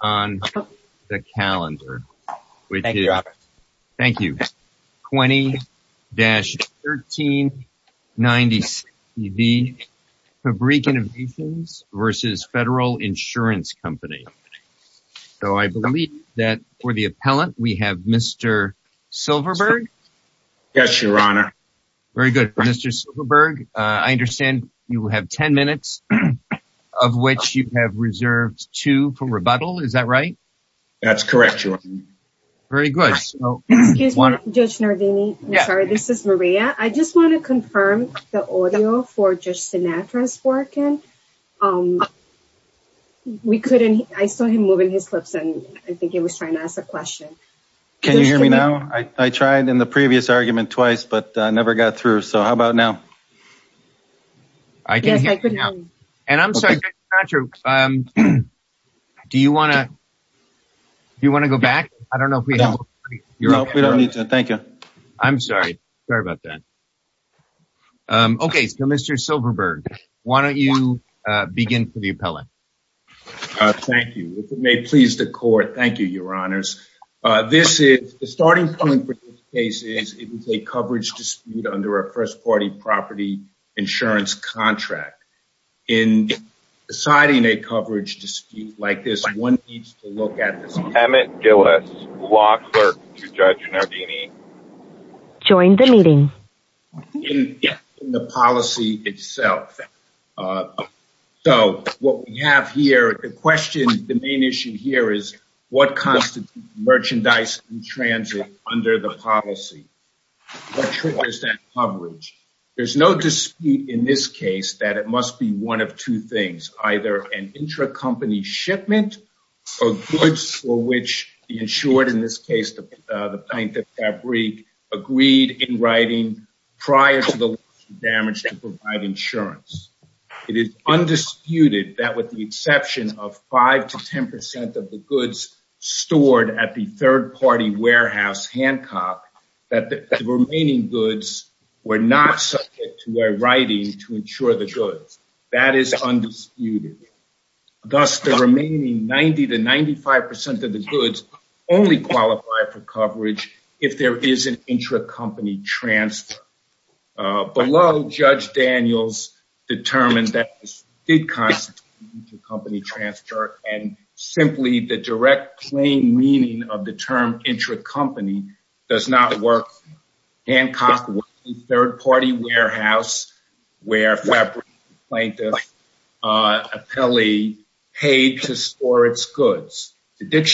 on the calendar, which is 20-1390CB, Fabrique Innovations, Inc. v. Federal Insurance Company. So I believe that for the appellant, we have Mr. Silverberg. Yes, Your Honor. Very good, Mr. Silverberg. I understand you have 10 minutes of which you have reserved two for rebuttal. Is that right? That's correct, Your Honor. Very good. Excuse me, Judge Nardini. I'm sorry. This is Maria. I just want to confirm the audio for Judge Sinatra's working. I saw him moving his lips, and I think he was trying to ask a question. Can you hear me now? I tried in the previous argument twice, but I never got through. So how about now? Yes, I can hear you now. And I'm sorry, Judge Sinatra, do you want to go back? No, we don't need to. Thank you. I'm sorry. Sorry about that. Okay, so Mr. Silverberg, why don't you begin for the appellant? Thank you. If it may please the Court, thank you, Your Honors. The starting point for this case is it was a coverage dispute under a first-party property insurance contract. In deciding a coverage dispute like this, one needs to look at this in the policy itself. So what we have here, the question, the main issue here is what constitutes merchandise in transit under the policy? What triggers that coverage? There's no dispute in this case that it must be one of two things, either an intra-company shipment of goods for which the insured, in this case, the plaintiff, Fabrique, agreed in writing prior to the damage to provide insurance. It is undisputed that with the exception of 5 to 10 percent of the goods stored at the third-party warehouse, Hancock, that the remaining goods were not subject to a writing to insure the goods. That is undisputed. Thus, the remaining 90 to 95 percent of the goods only qualify for coverage if there is an intra-company transfer. Below, Judge Daniels determined that this did constitute an intra-company transfer, and simply the direct plain meaning of the term intra-company does not work. Hancock was a third-party warehouse where Fabrique and the plaintiff paid to store its goods.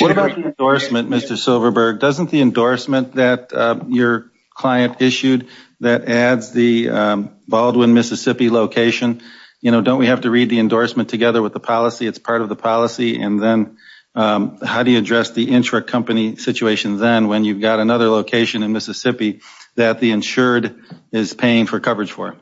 What about the endorsement, Mr. Silverberg? Doesn't the endorsement that your client issued that adds the Baldwin, Mississippi location, you know, don't we have to read the endorsement together with the policy? It's part of the policy. And then how do you address the intra-company situation then when you've got another location in Mississippi that the insured is paying for coverage for?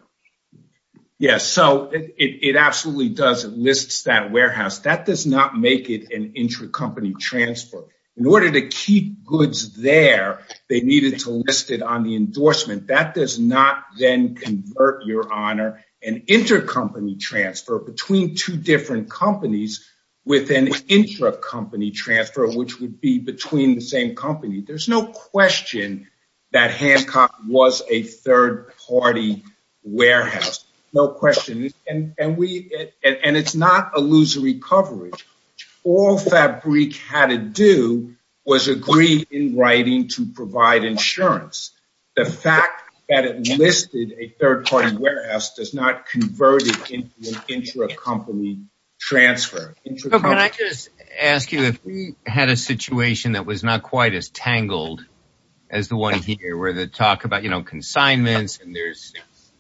Yes, so it absolutely does. It lists that warehouse. That does not make it an intra-company transfer. In order to keep goods there, they needed to list it on the endorsement. That does not then convert, Your Honor, an intra-company transfer between two different companies with an intra-company transfer, which would be between the same company. There's no question that Hancock was a third-party warehouse. No question. And it's not illusory coverage. All Fabrique had to do was agree in writing to provide insurance. The fact that it listed a third-party warehouse does not convert it into an intra-company transfer. Can I just ask you if we had a situation that was not quite as tangled as the one here, where they talk about, you know, consignments and there's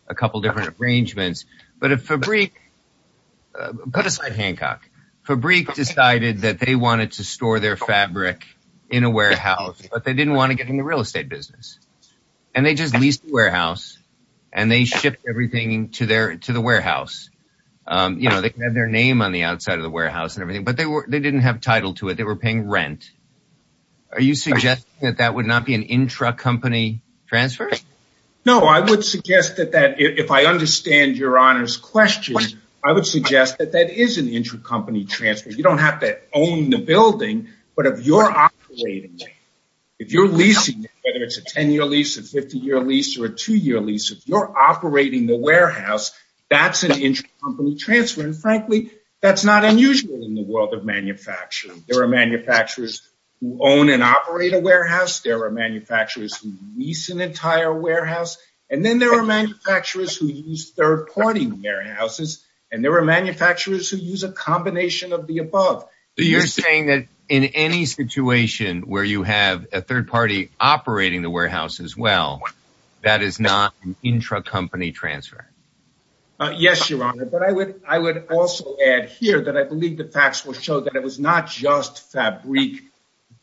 a couple different arrangements, but if Fabrique, put aside Hancock, Fabrique decided that they wanted to store their fabric in a warehouse, but they didn't want to get in the real estate business, and they just leased the warehouse, and they shipped everything to the warehouse. You know, they had their name on the outside of the warehouse and everything, but they didn't have title to it. They were paying rent. Are you suggesting that that would not be an intra-company transfer? No, I would suggest that if I understand Your Honor's question, I would suggest that that is an intra-company transfer. You don't have to own the building, but if you're operating it, if you're leasing it, whether it's a 10-year lease, a 50-year lease, or a 2-year lease, if you're operating the warehouse, that's an intra-company transfer, and, frankly, that's not unusual in the world of manufacturing. There are manufacturers who own and operate a warehouse. There are manufacturers who lease an entire warehouse, and then there are manufacturers who use third-party warehouses, and there are manufacturers who use a combination of the above. So you're saying that in any situation where you have a third party operating the warehouse as well, that is not an intra-company transfer? Yes, Your Honor, but I would also add here that I believe the facts will show that it was not just fabric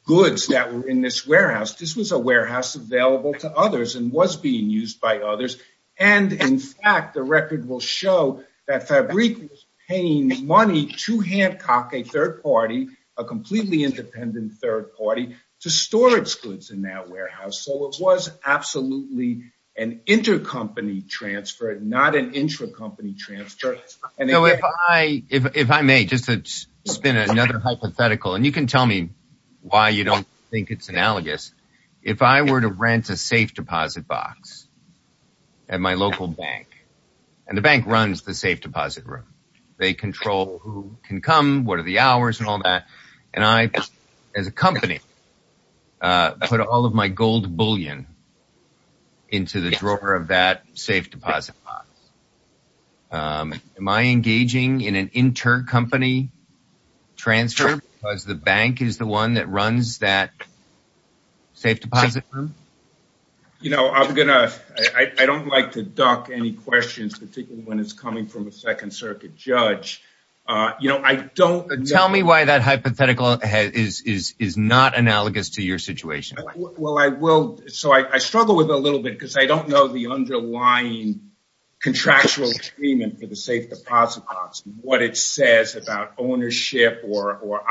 goods that were in this warehouse. This was a warehouse available to others and was being used by others, and, in fact, the record will show that Fabrique was paying money to Hancock, a third party, a completely independent third party, to store its goods in that warehouse. So it was absolutely an inter-company transfer, not an intra-company transfer. If I may, just to spin another hypothetical, and you can tell me why you don't think it's analogous. If I were to rent a safe deposit box at my local bank, and the bank runs the safe deposit room. They control who can come, what are the hours and all that, and I, as a company, put all of my gold bullion into the drawer of that safe deposit box. Am I engaging in an inter-company transfer because the bank is the one that runs that safe deposit room? You know, I don't like to duck any questions, particularly when it's coming from a Second Circuit judge. Tell me why that hypothetical is not analogous to your situation. So I struggle with it a little bit because I don't know the underlying contractual agreement for the safe deposit box, what it says about ownership or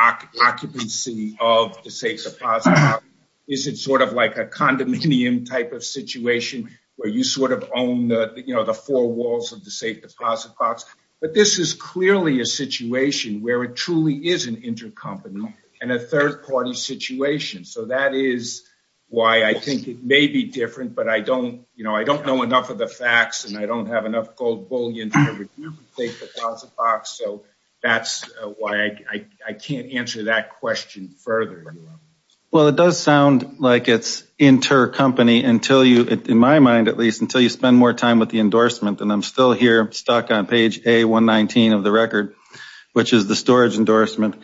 occupancy of the safe deposit box. Is it sort of like a condominium type of situation where you sort of own the four walls of the safe deposit box? But this is clearly a situation where it truly is an inter-company and a third party situation. So that is why I think it may be different, but I don't know enough of the facts, and I don't have enough gold bullion to take the safe deposit box, so that's why I can't answer that question further. Well, it does sound like it's inter-company until you, in my mind at least, until you spend more time with the endorsement. And I'm still here stuck on page A119 of the record, which is the storage endorsement.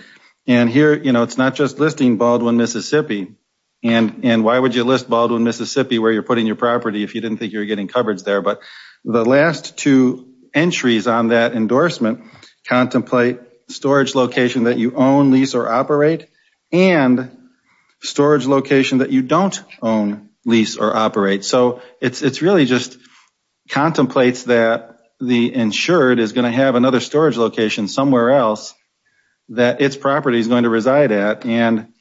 And here, you know, it's not just listing Baldwin, Mississippi. And why would you list Baldwin, Mississippi where you're putting your property if you didn't think you were getting coverage there? But the last two entries on that endorsement contemplate storage location that you own, lease, or operate, and storage location that you don't own, lease, or operate. So it really just contemplates that the insured is going to have another storage location somewhere else that its property is going to reside at. And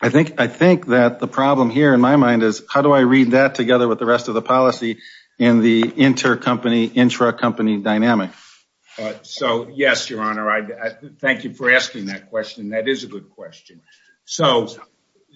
I think that the problem here in my mind is how do I read that together with the rest of the policy and the inter-company, intra-company dynamic? So, yes, Your Honor, thank you for asking that question. That is a good question. So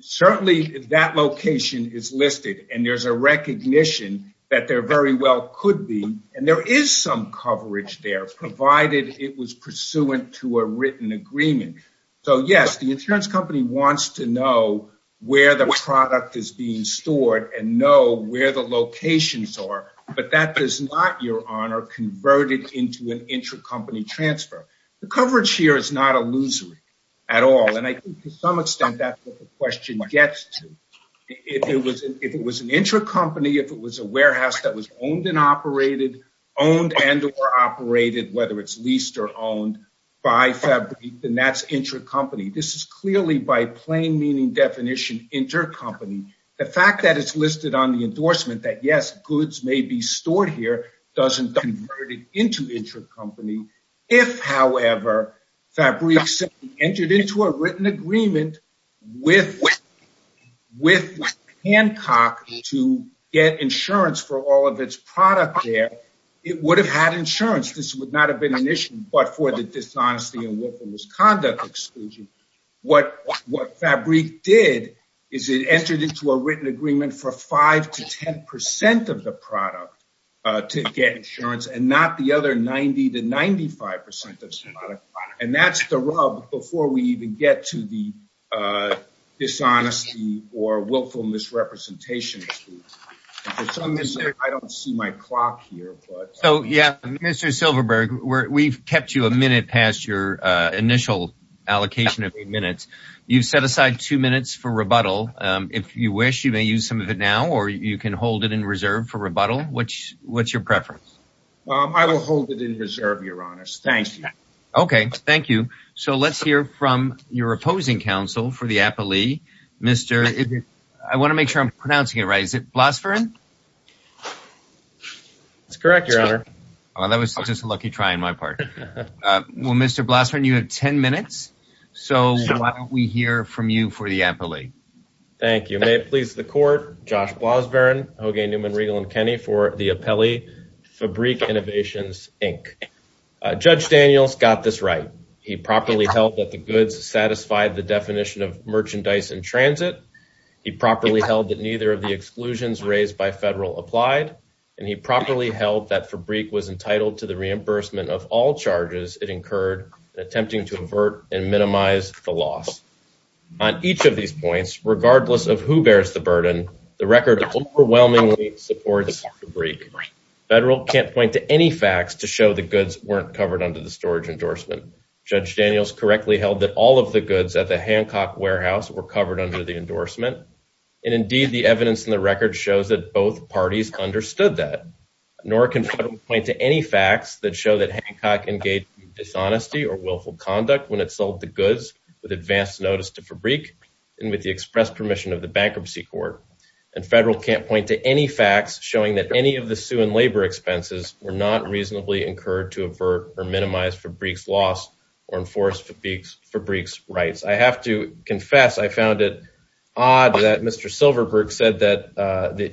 certainly that location is listed, and there's a recognition that there very well could be, and there is some coverage there provided it was pursuant to a written agreement. So, yes, the insurance company wants to know where the product is being stored and know where the locations are, but that does not, Your Honor, convert it into an intra-company transfer. The coverage here is not illusory at all, and I think to some extent that's what the question gets to. If it was an intra-company, if it was a warehouse that was owned and operated, owned and or operated, whether it's leased or owned, by Fabrique, then that's intra-company. This is clearly by plain meaning definition intra-company. The fact that it's listed on the endorsement that, yes, goods may be stored here, doesn't convert it into intra-company. If, however, Fabrique simply entered into a written agreement with Hancock to get insurance for all of its product there, it would have had insurance. This would not have been an issue but for the dishonesty and misconduct exclusion. What Fabrique did is it entered into a written agreement for 5% to 10% of the product to get insurance and not the other 90% to 95% of the product. That's the rub before we even get to the dishonesty or willful misrepresentation. For some reason, I don't see my clock here. Mr. Silverberg, we've kept you a minute past your initial allocation of eight minutes. You've set aside two minutes for rebuttal. If you wish, you may use some of it now or you can hold it in reserve for rebuttal. What's your preference? I will hold it in reserve, Your Honors. Thank you. Okay. Thank you. Let's hear from your opposing counsel for the appellee. I want to make sure I'm pronouncing it right. Is it Blasvern? That's correct, Your Honor. That was just a lucky try on my part. Mr. Blasvern, you have 10 minutes. Why don't we hear from you for the appellee? Thank you. May it please the court. Josh Blasvern, Hoagy, Newman, Riegel, and Kenney for the appellee, Fabrique Innovations, Inc. Judge Daniels got this right. He properly held that the goods satisfied the definition of merchandise in transit. He properly held that neither of the exclusions raised by federal applied, and he properly held that Fabrique was entitled to the reimbursement of all charges it incurred, attempting to avert and minimize the loss. On each of these points, regardless of who bears the burden, the record overwhelmingly supports Fabrique. Federal can't point to any facts to show the goods weren't covered under the storage endorsement. Judge Daniels correctly held that all of the goods at the Hancock warehouse were covered under the endorsement, and indeed the evidence in the record shows that both parties understood that. Nor can federal point to any facts that show that Hancock engaged in dishonesty or willful conduct when it sold the goods with advance notice to Fabrique and with the express permission of the Bankruptcy Court. And federal can't point to any facts showing that any of the sue and labor expenses were not reasonably incurred to avert or minimize Fabrique's loss or enforce Fabrique's rights. I have to confess I found it odd that Mr. Silverberg said that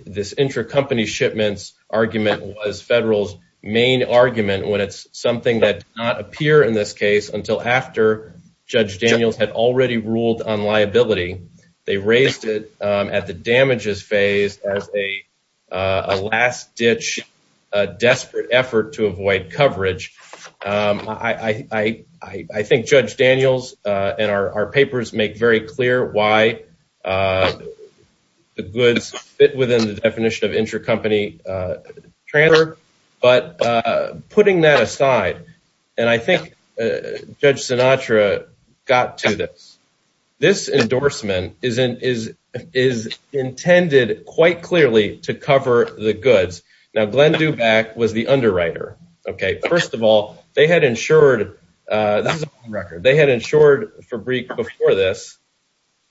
this intracompany shipments argument was federal's main argument when it's something that did not appear in this case until after Judge Daniels had already ruled on liability. They raised it at the damages phase as a last-ditch, desperate effort to avoid coverage. I think Judge Daniels and our papers make very clear why the goods fit within the definition of intracompany transfer, but putting that aside, and I think Judge Sinatra got to this, this endorsement is intended quite clearly to cover the goods. Now, Glenn Dubac was the underwriter. First of all, they had insured Fabrique before this,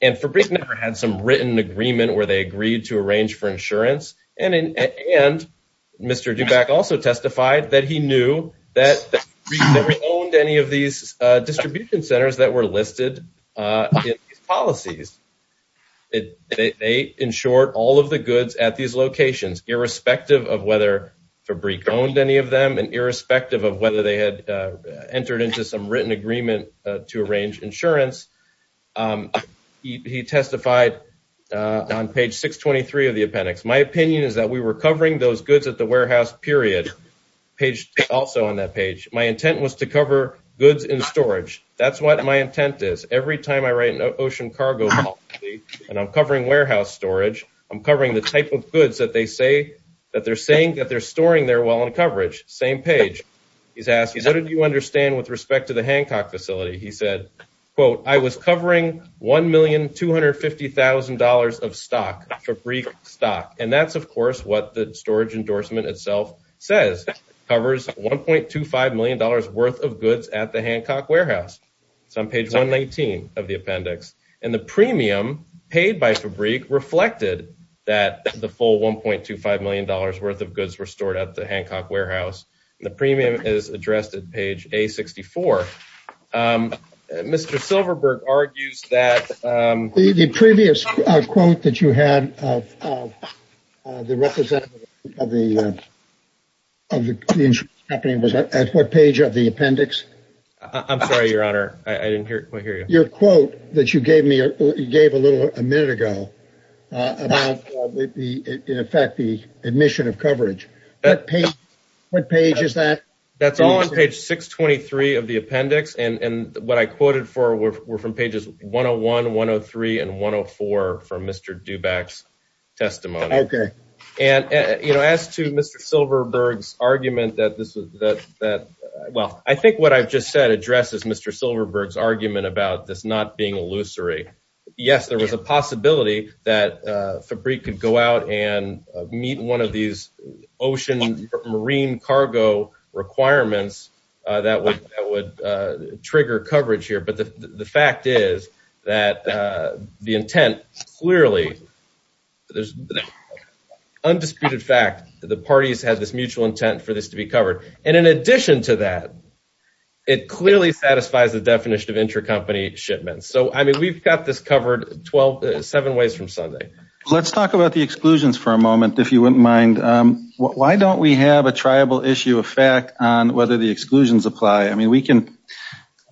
and Fabrique never had some written agreement where they agreed to arrange for insurance. And Mr. Dubac also testified that he knew that Fabrique never owned any of these distribution centers that were listed in these policies. They insured all of the goods at these locations, irrespective of whether Fabrique owned any of them and irrespective of whether they had entered into some written agreement to arrange insurance. He testified on page 623 of the appendix. My opinion is that we were covering those goods at the warehouse period, also on that page. My intent was to cover goods in storage. That's what my intent is. Every time I write an ocean cargo policy and I'm covering warehouse storage, I'm covering the type of goods that they're saying that they're storing there while in coverage. Same page. He's asked, what did you understand with respect to the Hancock facility? He said, quote, I was covering $1,250,000 of stock, Fabrique stock. And that's, of course, what the storage endorsement itself says, covers $1.25 million worth of goods at the Hancock warehouse. It's on page 119 of the appendix. And the premium paid by Fabrique reflected that the full $1.25 million worth of goods were stored at the Hancock warehouse. The premium is addressed at page A64. Mr. Silverberg argues that. The previous quote that you had of the representative of the insurance company was at what page of the appendix? I'm sorry, Your Honor. I didn't quite hear you. Your quote that you gave me, you gave a little a minute ago about the, in effect, the admission of coverage. What page is that? That's all on page 623 of the appendix. And what I quoted for were from pages 101, 103, and 104 from Mr. Duback's testimony. Okay. And, you know, as to Mr. Silverberg's argument that this was, that, well, I think what I've just said addresses Mr. Silverberg's argument about this not being illusory. Yes, there was a possibility that Fabrique could go out and meet one of these ocean marine cargo requirements that would trigger coverage here. But the fact is that the intent clearly, there's undisputed fact that the parties had this mutual intent for this to be covered. And in addition to that, it clearly satisfies the definition of intercompany shipments. So, I mean, we've got this covered seven ways from Sunday. Let's talk about the exclusions for a moment, if you wouldn't mind. Why don't we have a triable issue of fact on whether the exclusions apply? I mean, we can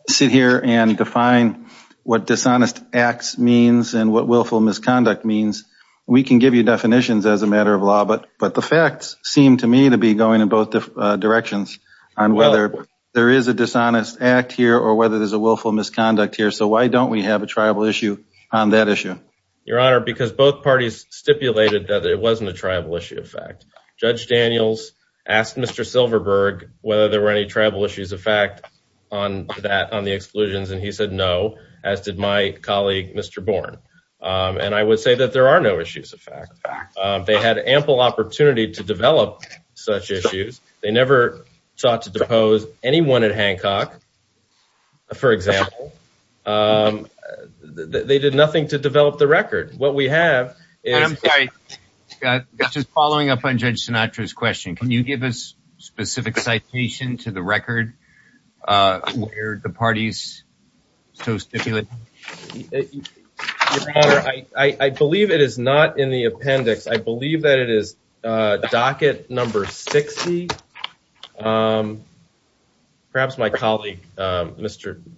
sit here and define what dishonest acts means and what willful misconduct means. We can give you definitions as a matter of law. But the facts seem to me to be going in both directions on whether there is a dishonest act here or whether there's a willful misconduct here. So why don't we have a tribal issue on that issue? Your Honor, because both parties stipulated that it wasn't a tribal issue of fact. Judge Daniels asked Mr. Silverberg whether there were any tribal issues of fact on that, on the exclusions. And he said no, as did my colleague, Mr. Born. And I would say that there are no issues of fact. They had ample opportunity to develop such issues. They never sought to depose anyone at Hancock, for example. They did nothing to develop the record. I'm sorry. Just following up on Judge Sinatra's question, can you give us specific citation to the record where the parties so stipulated? Your Honor, I believe it is not in the appendix. I believe that it is docket number 60. Perhaps my colleague,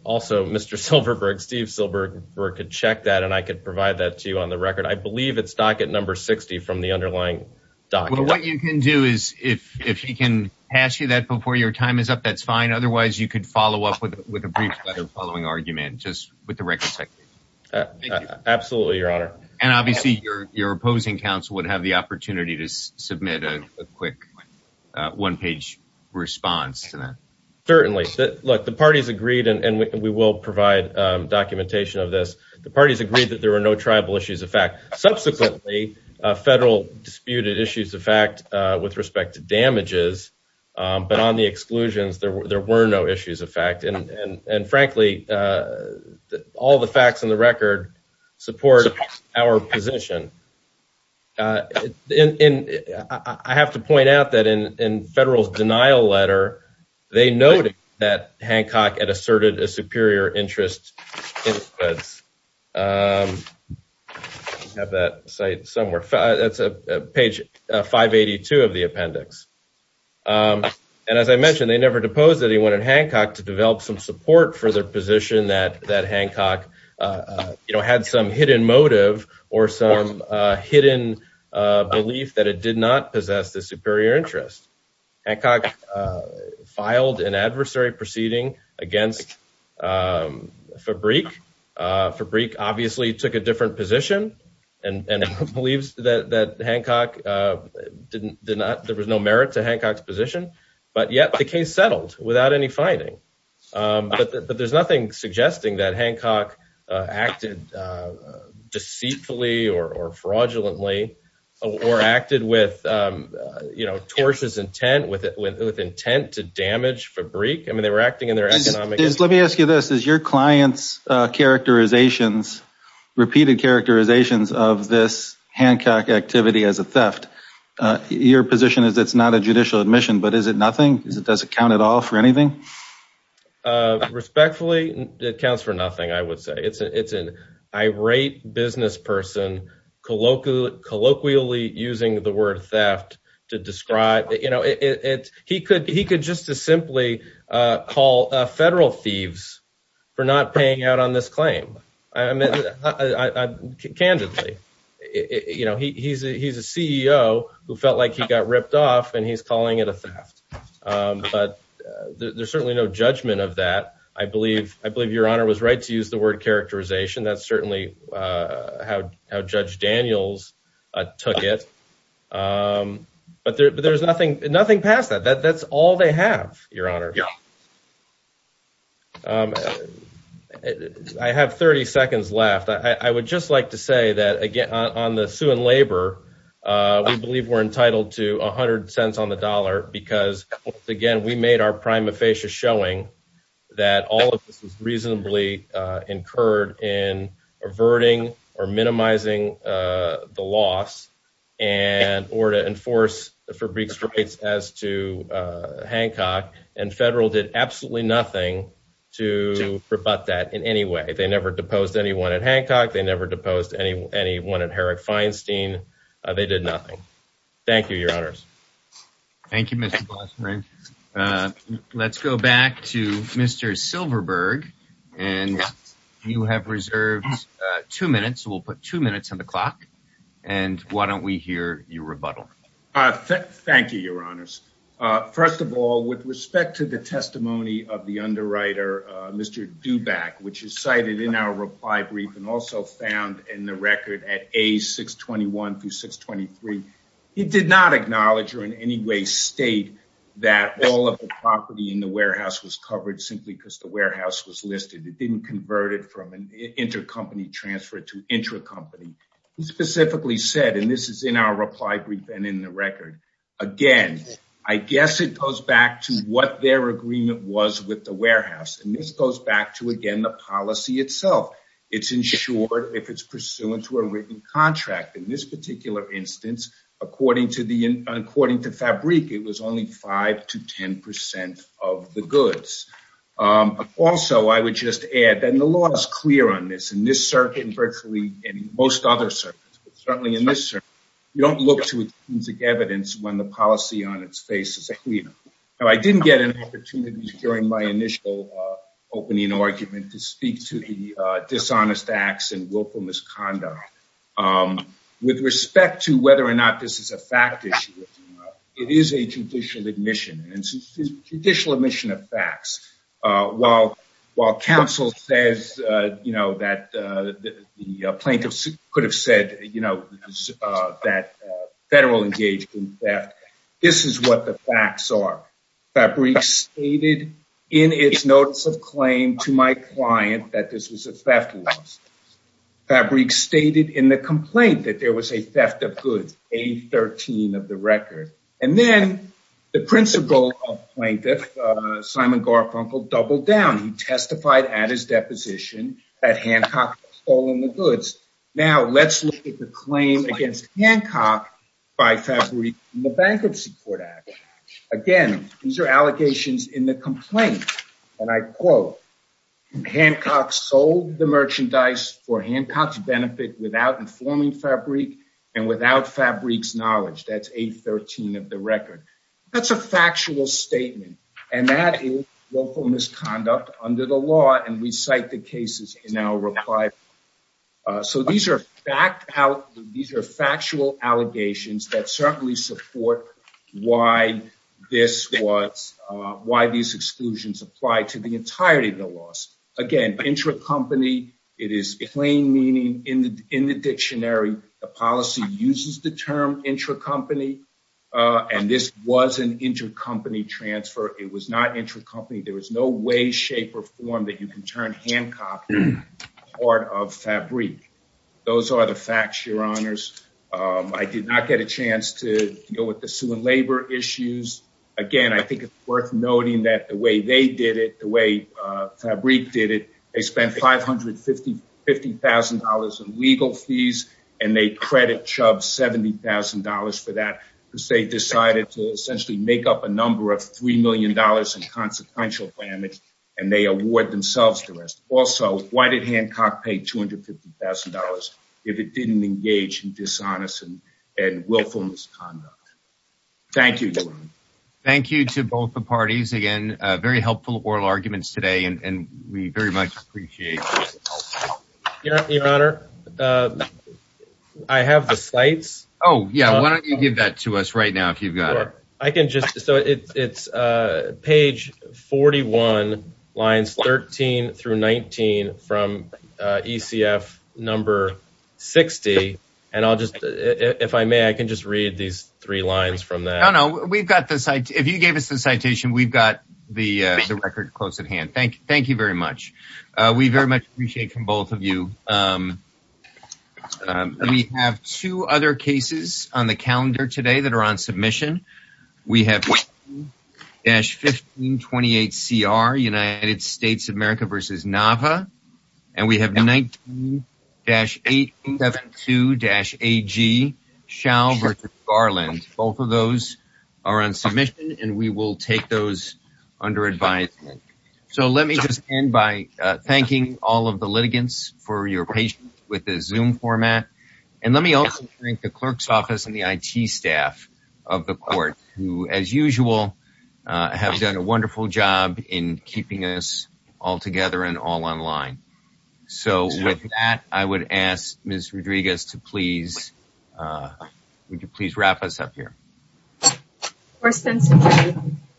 also Mr. Silverberg, Steve Silverberg, could check that, and I could provide that to you on the record. I believe it's docket number 60 from the underlying docket. Well, what you can do is if he can pass you that before your time is up, that's fine. Otherwise, you could follow up with a brief letter following argument just with the record section. Absolutely, Your Honor. And obviously, your opposing counsel would have the opportunity to submit a quick one-page response to that. Certainly. Look, the parties agreed, and we will provide documentation of this. The parties agreed that there were no tribal issues of fact. Subsequently, federal disputed issues of fact with respect to damages. But on the exclusions, there were no issues of fact. And frankly, all the facts on the record support our position. And I have to point out that in Federal's denial letter, they noted that Hancock had asserted a superior interest in the goods. I have that cited somewhere. That's page 582 of the appendix. And as I mentioned, they never deposed anyone in Hancock to develop some support for their position that Hancock had some hidden motive or some hidden belief that it did not possess the superior interest. Hancock filed an adversary proceeding against Fabrique. Fabrique obviously took a different position and believes that Hancock did not – there was no merit to Hancock's position. But yet the case settled without any finding. But there's nothing suggesting that Hancock acted deceitfully or fraudulently or acted with, you know, torches intent, with intent to damage Fabrique. I mean, they were acting in their economic – repeated characterizations of this Hancock activity as a theft. Your position is it's not a judicial admission, but is it nothing? Does it count at all for anything? Respectfully, it counts for nothing, I would say. It's an irate business person colloquially using the word theft to describe – you know, he could just as simply call federal thieves for not paying out on this claim, candidly. You know, he's a CEO who felt like he got ripped off, and he's calling it a theft. But there's certainly no judgment of that. I believe Your Honor was right to use the word characterization. That's certainly how Judge Daniels took it. But there's nothing past that. That's all they have, Your Honor. I have 30 seconds left. I would just like to say that, again, on the sue and labor, we believe we're entitled to 100 cents on the dollar because, again, we made our prima facie showing that all of this was reasonably incurred in averting or minimizing the loss and – or to enforce Fabrique's rights as to Hancock. And federal did absolutely nothing to rebut that in any way. They never deposed anyone at Hancock. They never deposed anyone at Herrick Feinstein. They did nothing. Thank you, Your Honors. Thank you, Mr. Blasser. Let's go back to Mr. Silverberg. And you have reserved two minutes, so we'll put two minutes on the clock. And why don't we hear your rebuttal? Thank you, Your Honors. First of all, with respect to the testimony of the underwriter, Mr. Duback, which is cited in our reply brief and also found in the record at A621 through 623, he did not acknowledge or in any way state that all of the property in the warehouse was covered simply because the warehouse was listed. It didn't convert it from an intercompany transfer to intracompany. He specifically said, and this is in our reply brief and in the record, again, I guess it goes back to what their agreement was with the warehouse. And this goes back to, again, the policy itself. It's insured if it's pursuant to a written contract. In this particular instance, according to Fabrique, it was only 5 to 10 percent of the goods. Also, I would just add that the law is clear on this. In this circuit and virtually in most other circuits, certainly in this circuit, you don't look to intrinsic evidence when the policy on its face is clear. I didn't get an opportunity during my initial opening argument to speak to the dishonest acts and willful misconduct. With respect to whether or not this is a fact issue, it is a judicial admission and judicial admission of facts. While counsel says that the plaintiffs could have said that federal engagement, this is what the facts are. Fabrique stated in its notice of claim to my client that this was a theft. Fabrique stated in the complaint that there was a theft of goods, A13 of the record. And then the principal plaintiff, Simon Garfunkel, doubled down. He testified at his deposition that Hancock had stolen the goods. Now, let's look at the claim against Hancock by Fabrique in the Bankruptcy Court Act. Again, these are allegations in the complaint. And I quote, Hancock sold the merchandise for Hancock's benefit without informing Fabrique and without Fabrique's knowledge. That's A13 of the record. That's a factual statement. And that is willful misconduct under the law. And we cite the cases in our reply. So these are fact out. These are factual allegations that certainly support why this was why these exclusions apply to the entirety of the loss. Again, intra company, it is plain meaning in the in the dictionary. The policy uses the term intra company. And this was an intra company transfer. It was not intra company. There was no way, shape or form that you can turn Hancock part of Fabrique. Those are the facts, your honors. I did not get a chance to deal with the labor issues. Again, I think it's worth noting that the way they did it, the way Fabrique did it. They spent five hundred fifty fifty thousand dollars in legal fees and they credit Chubb seventy thousand dollars for that because they decided to essentially make up a number of three million dollars in consequential damage. And they award themselves to us. Also, why did Hancock pay two hundred fifty thousand dollars if it didn't engage in dishonest and willful misconduct? Thank you. Thank you to both the parties. Again, very helpful oral arguments today and we very much appreciate your honor. I have the slates. Oh, yeah. Why don't you give that to us right now? If you've got it, I can just so it's page forty one lines, 13 through 19 from ECF number 60. And I'll just if I may, I can just read these three lines from that. You know, we've got this. If you gave us the citation, we've got the record close at hand. Thank thank you very much. We very much appreciate from both of you. We have two other cases on the calendar today that are on submission. So let me just end by thanking all of the litigants for your patience with the zoom format. And let me also thank the clerk's office and the I.T. staff of the court, who, as usual, have done a wonderful job in keeping us all together and all online. So with that, I would ask Ms. Rodriguez to please. Would you please wrap us up here?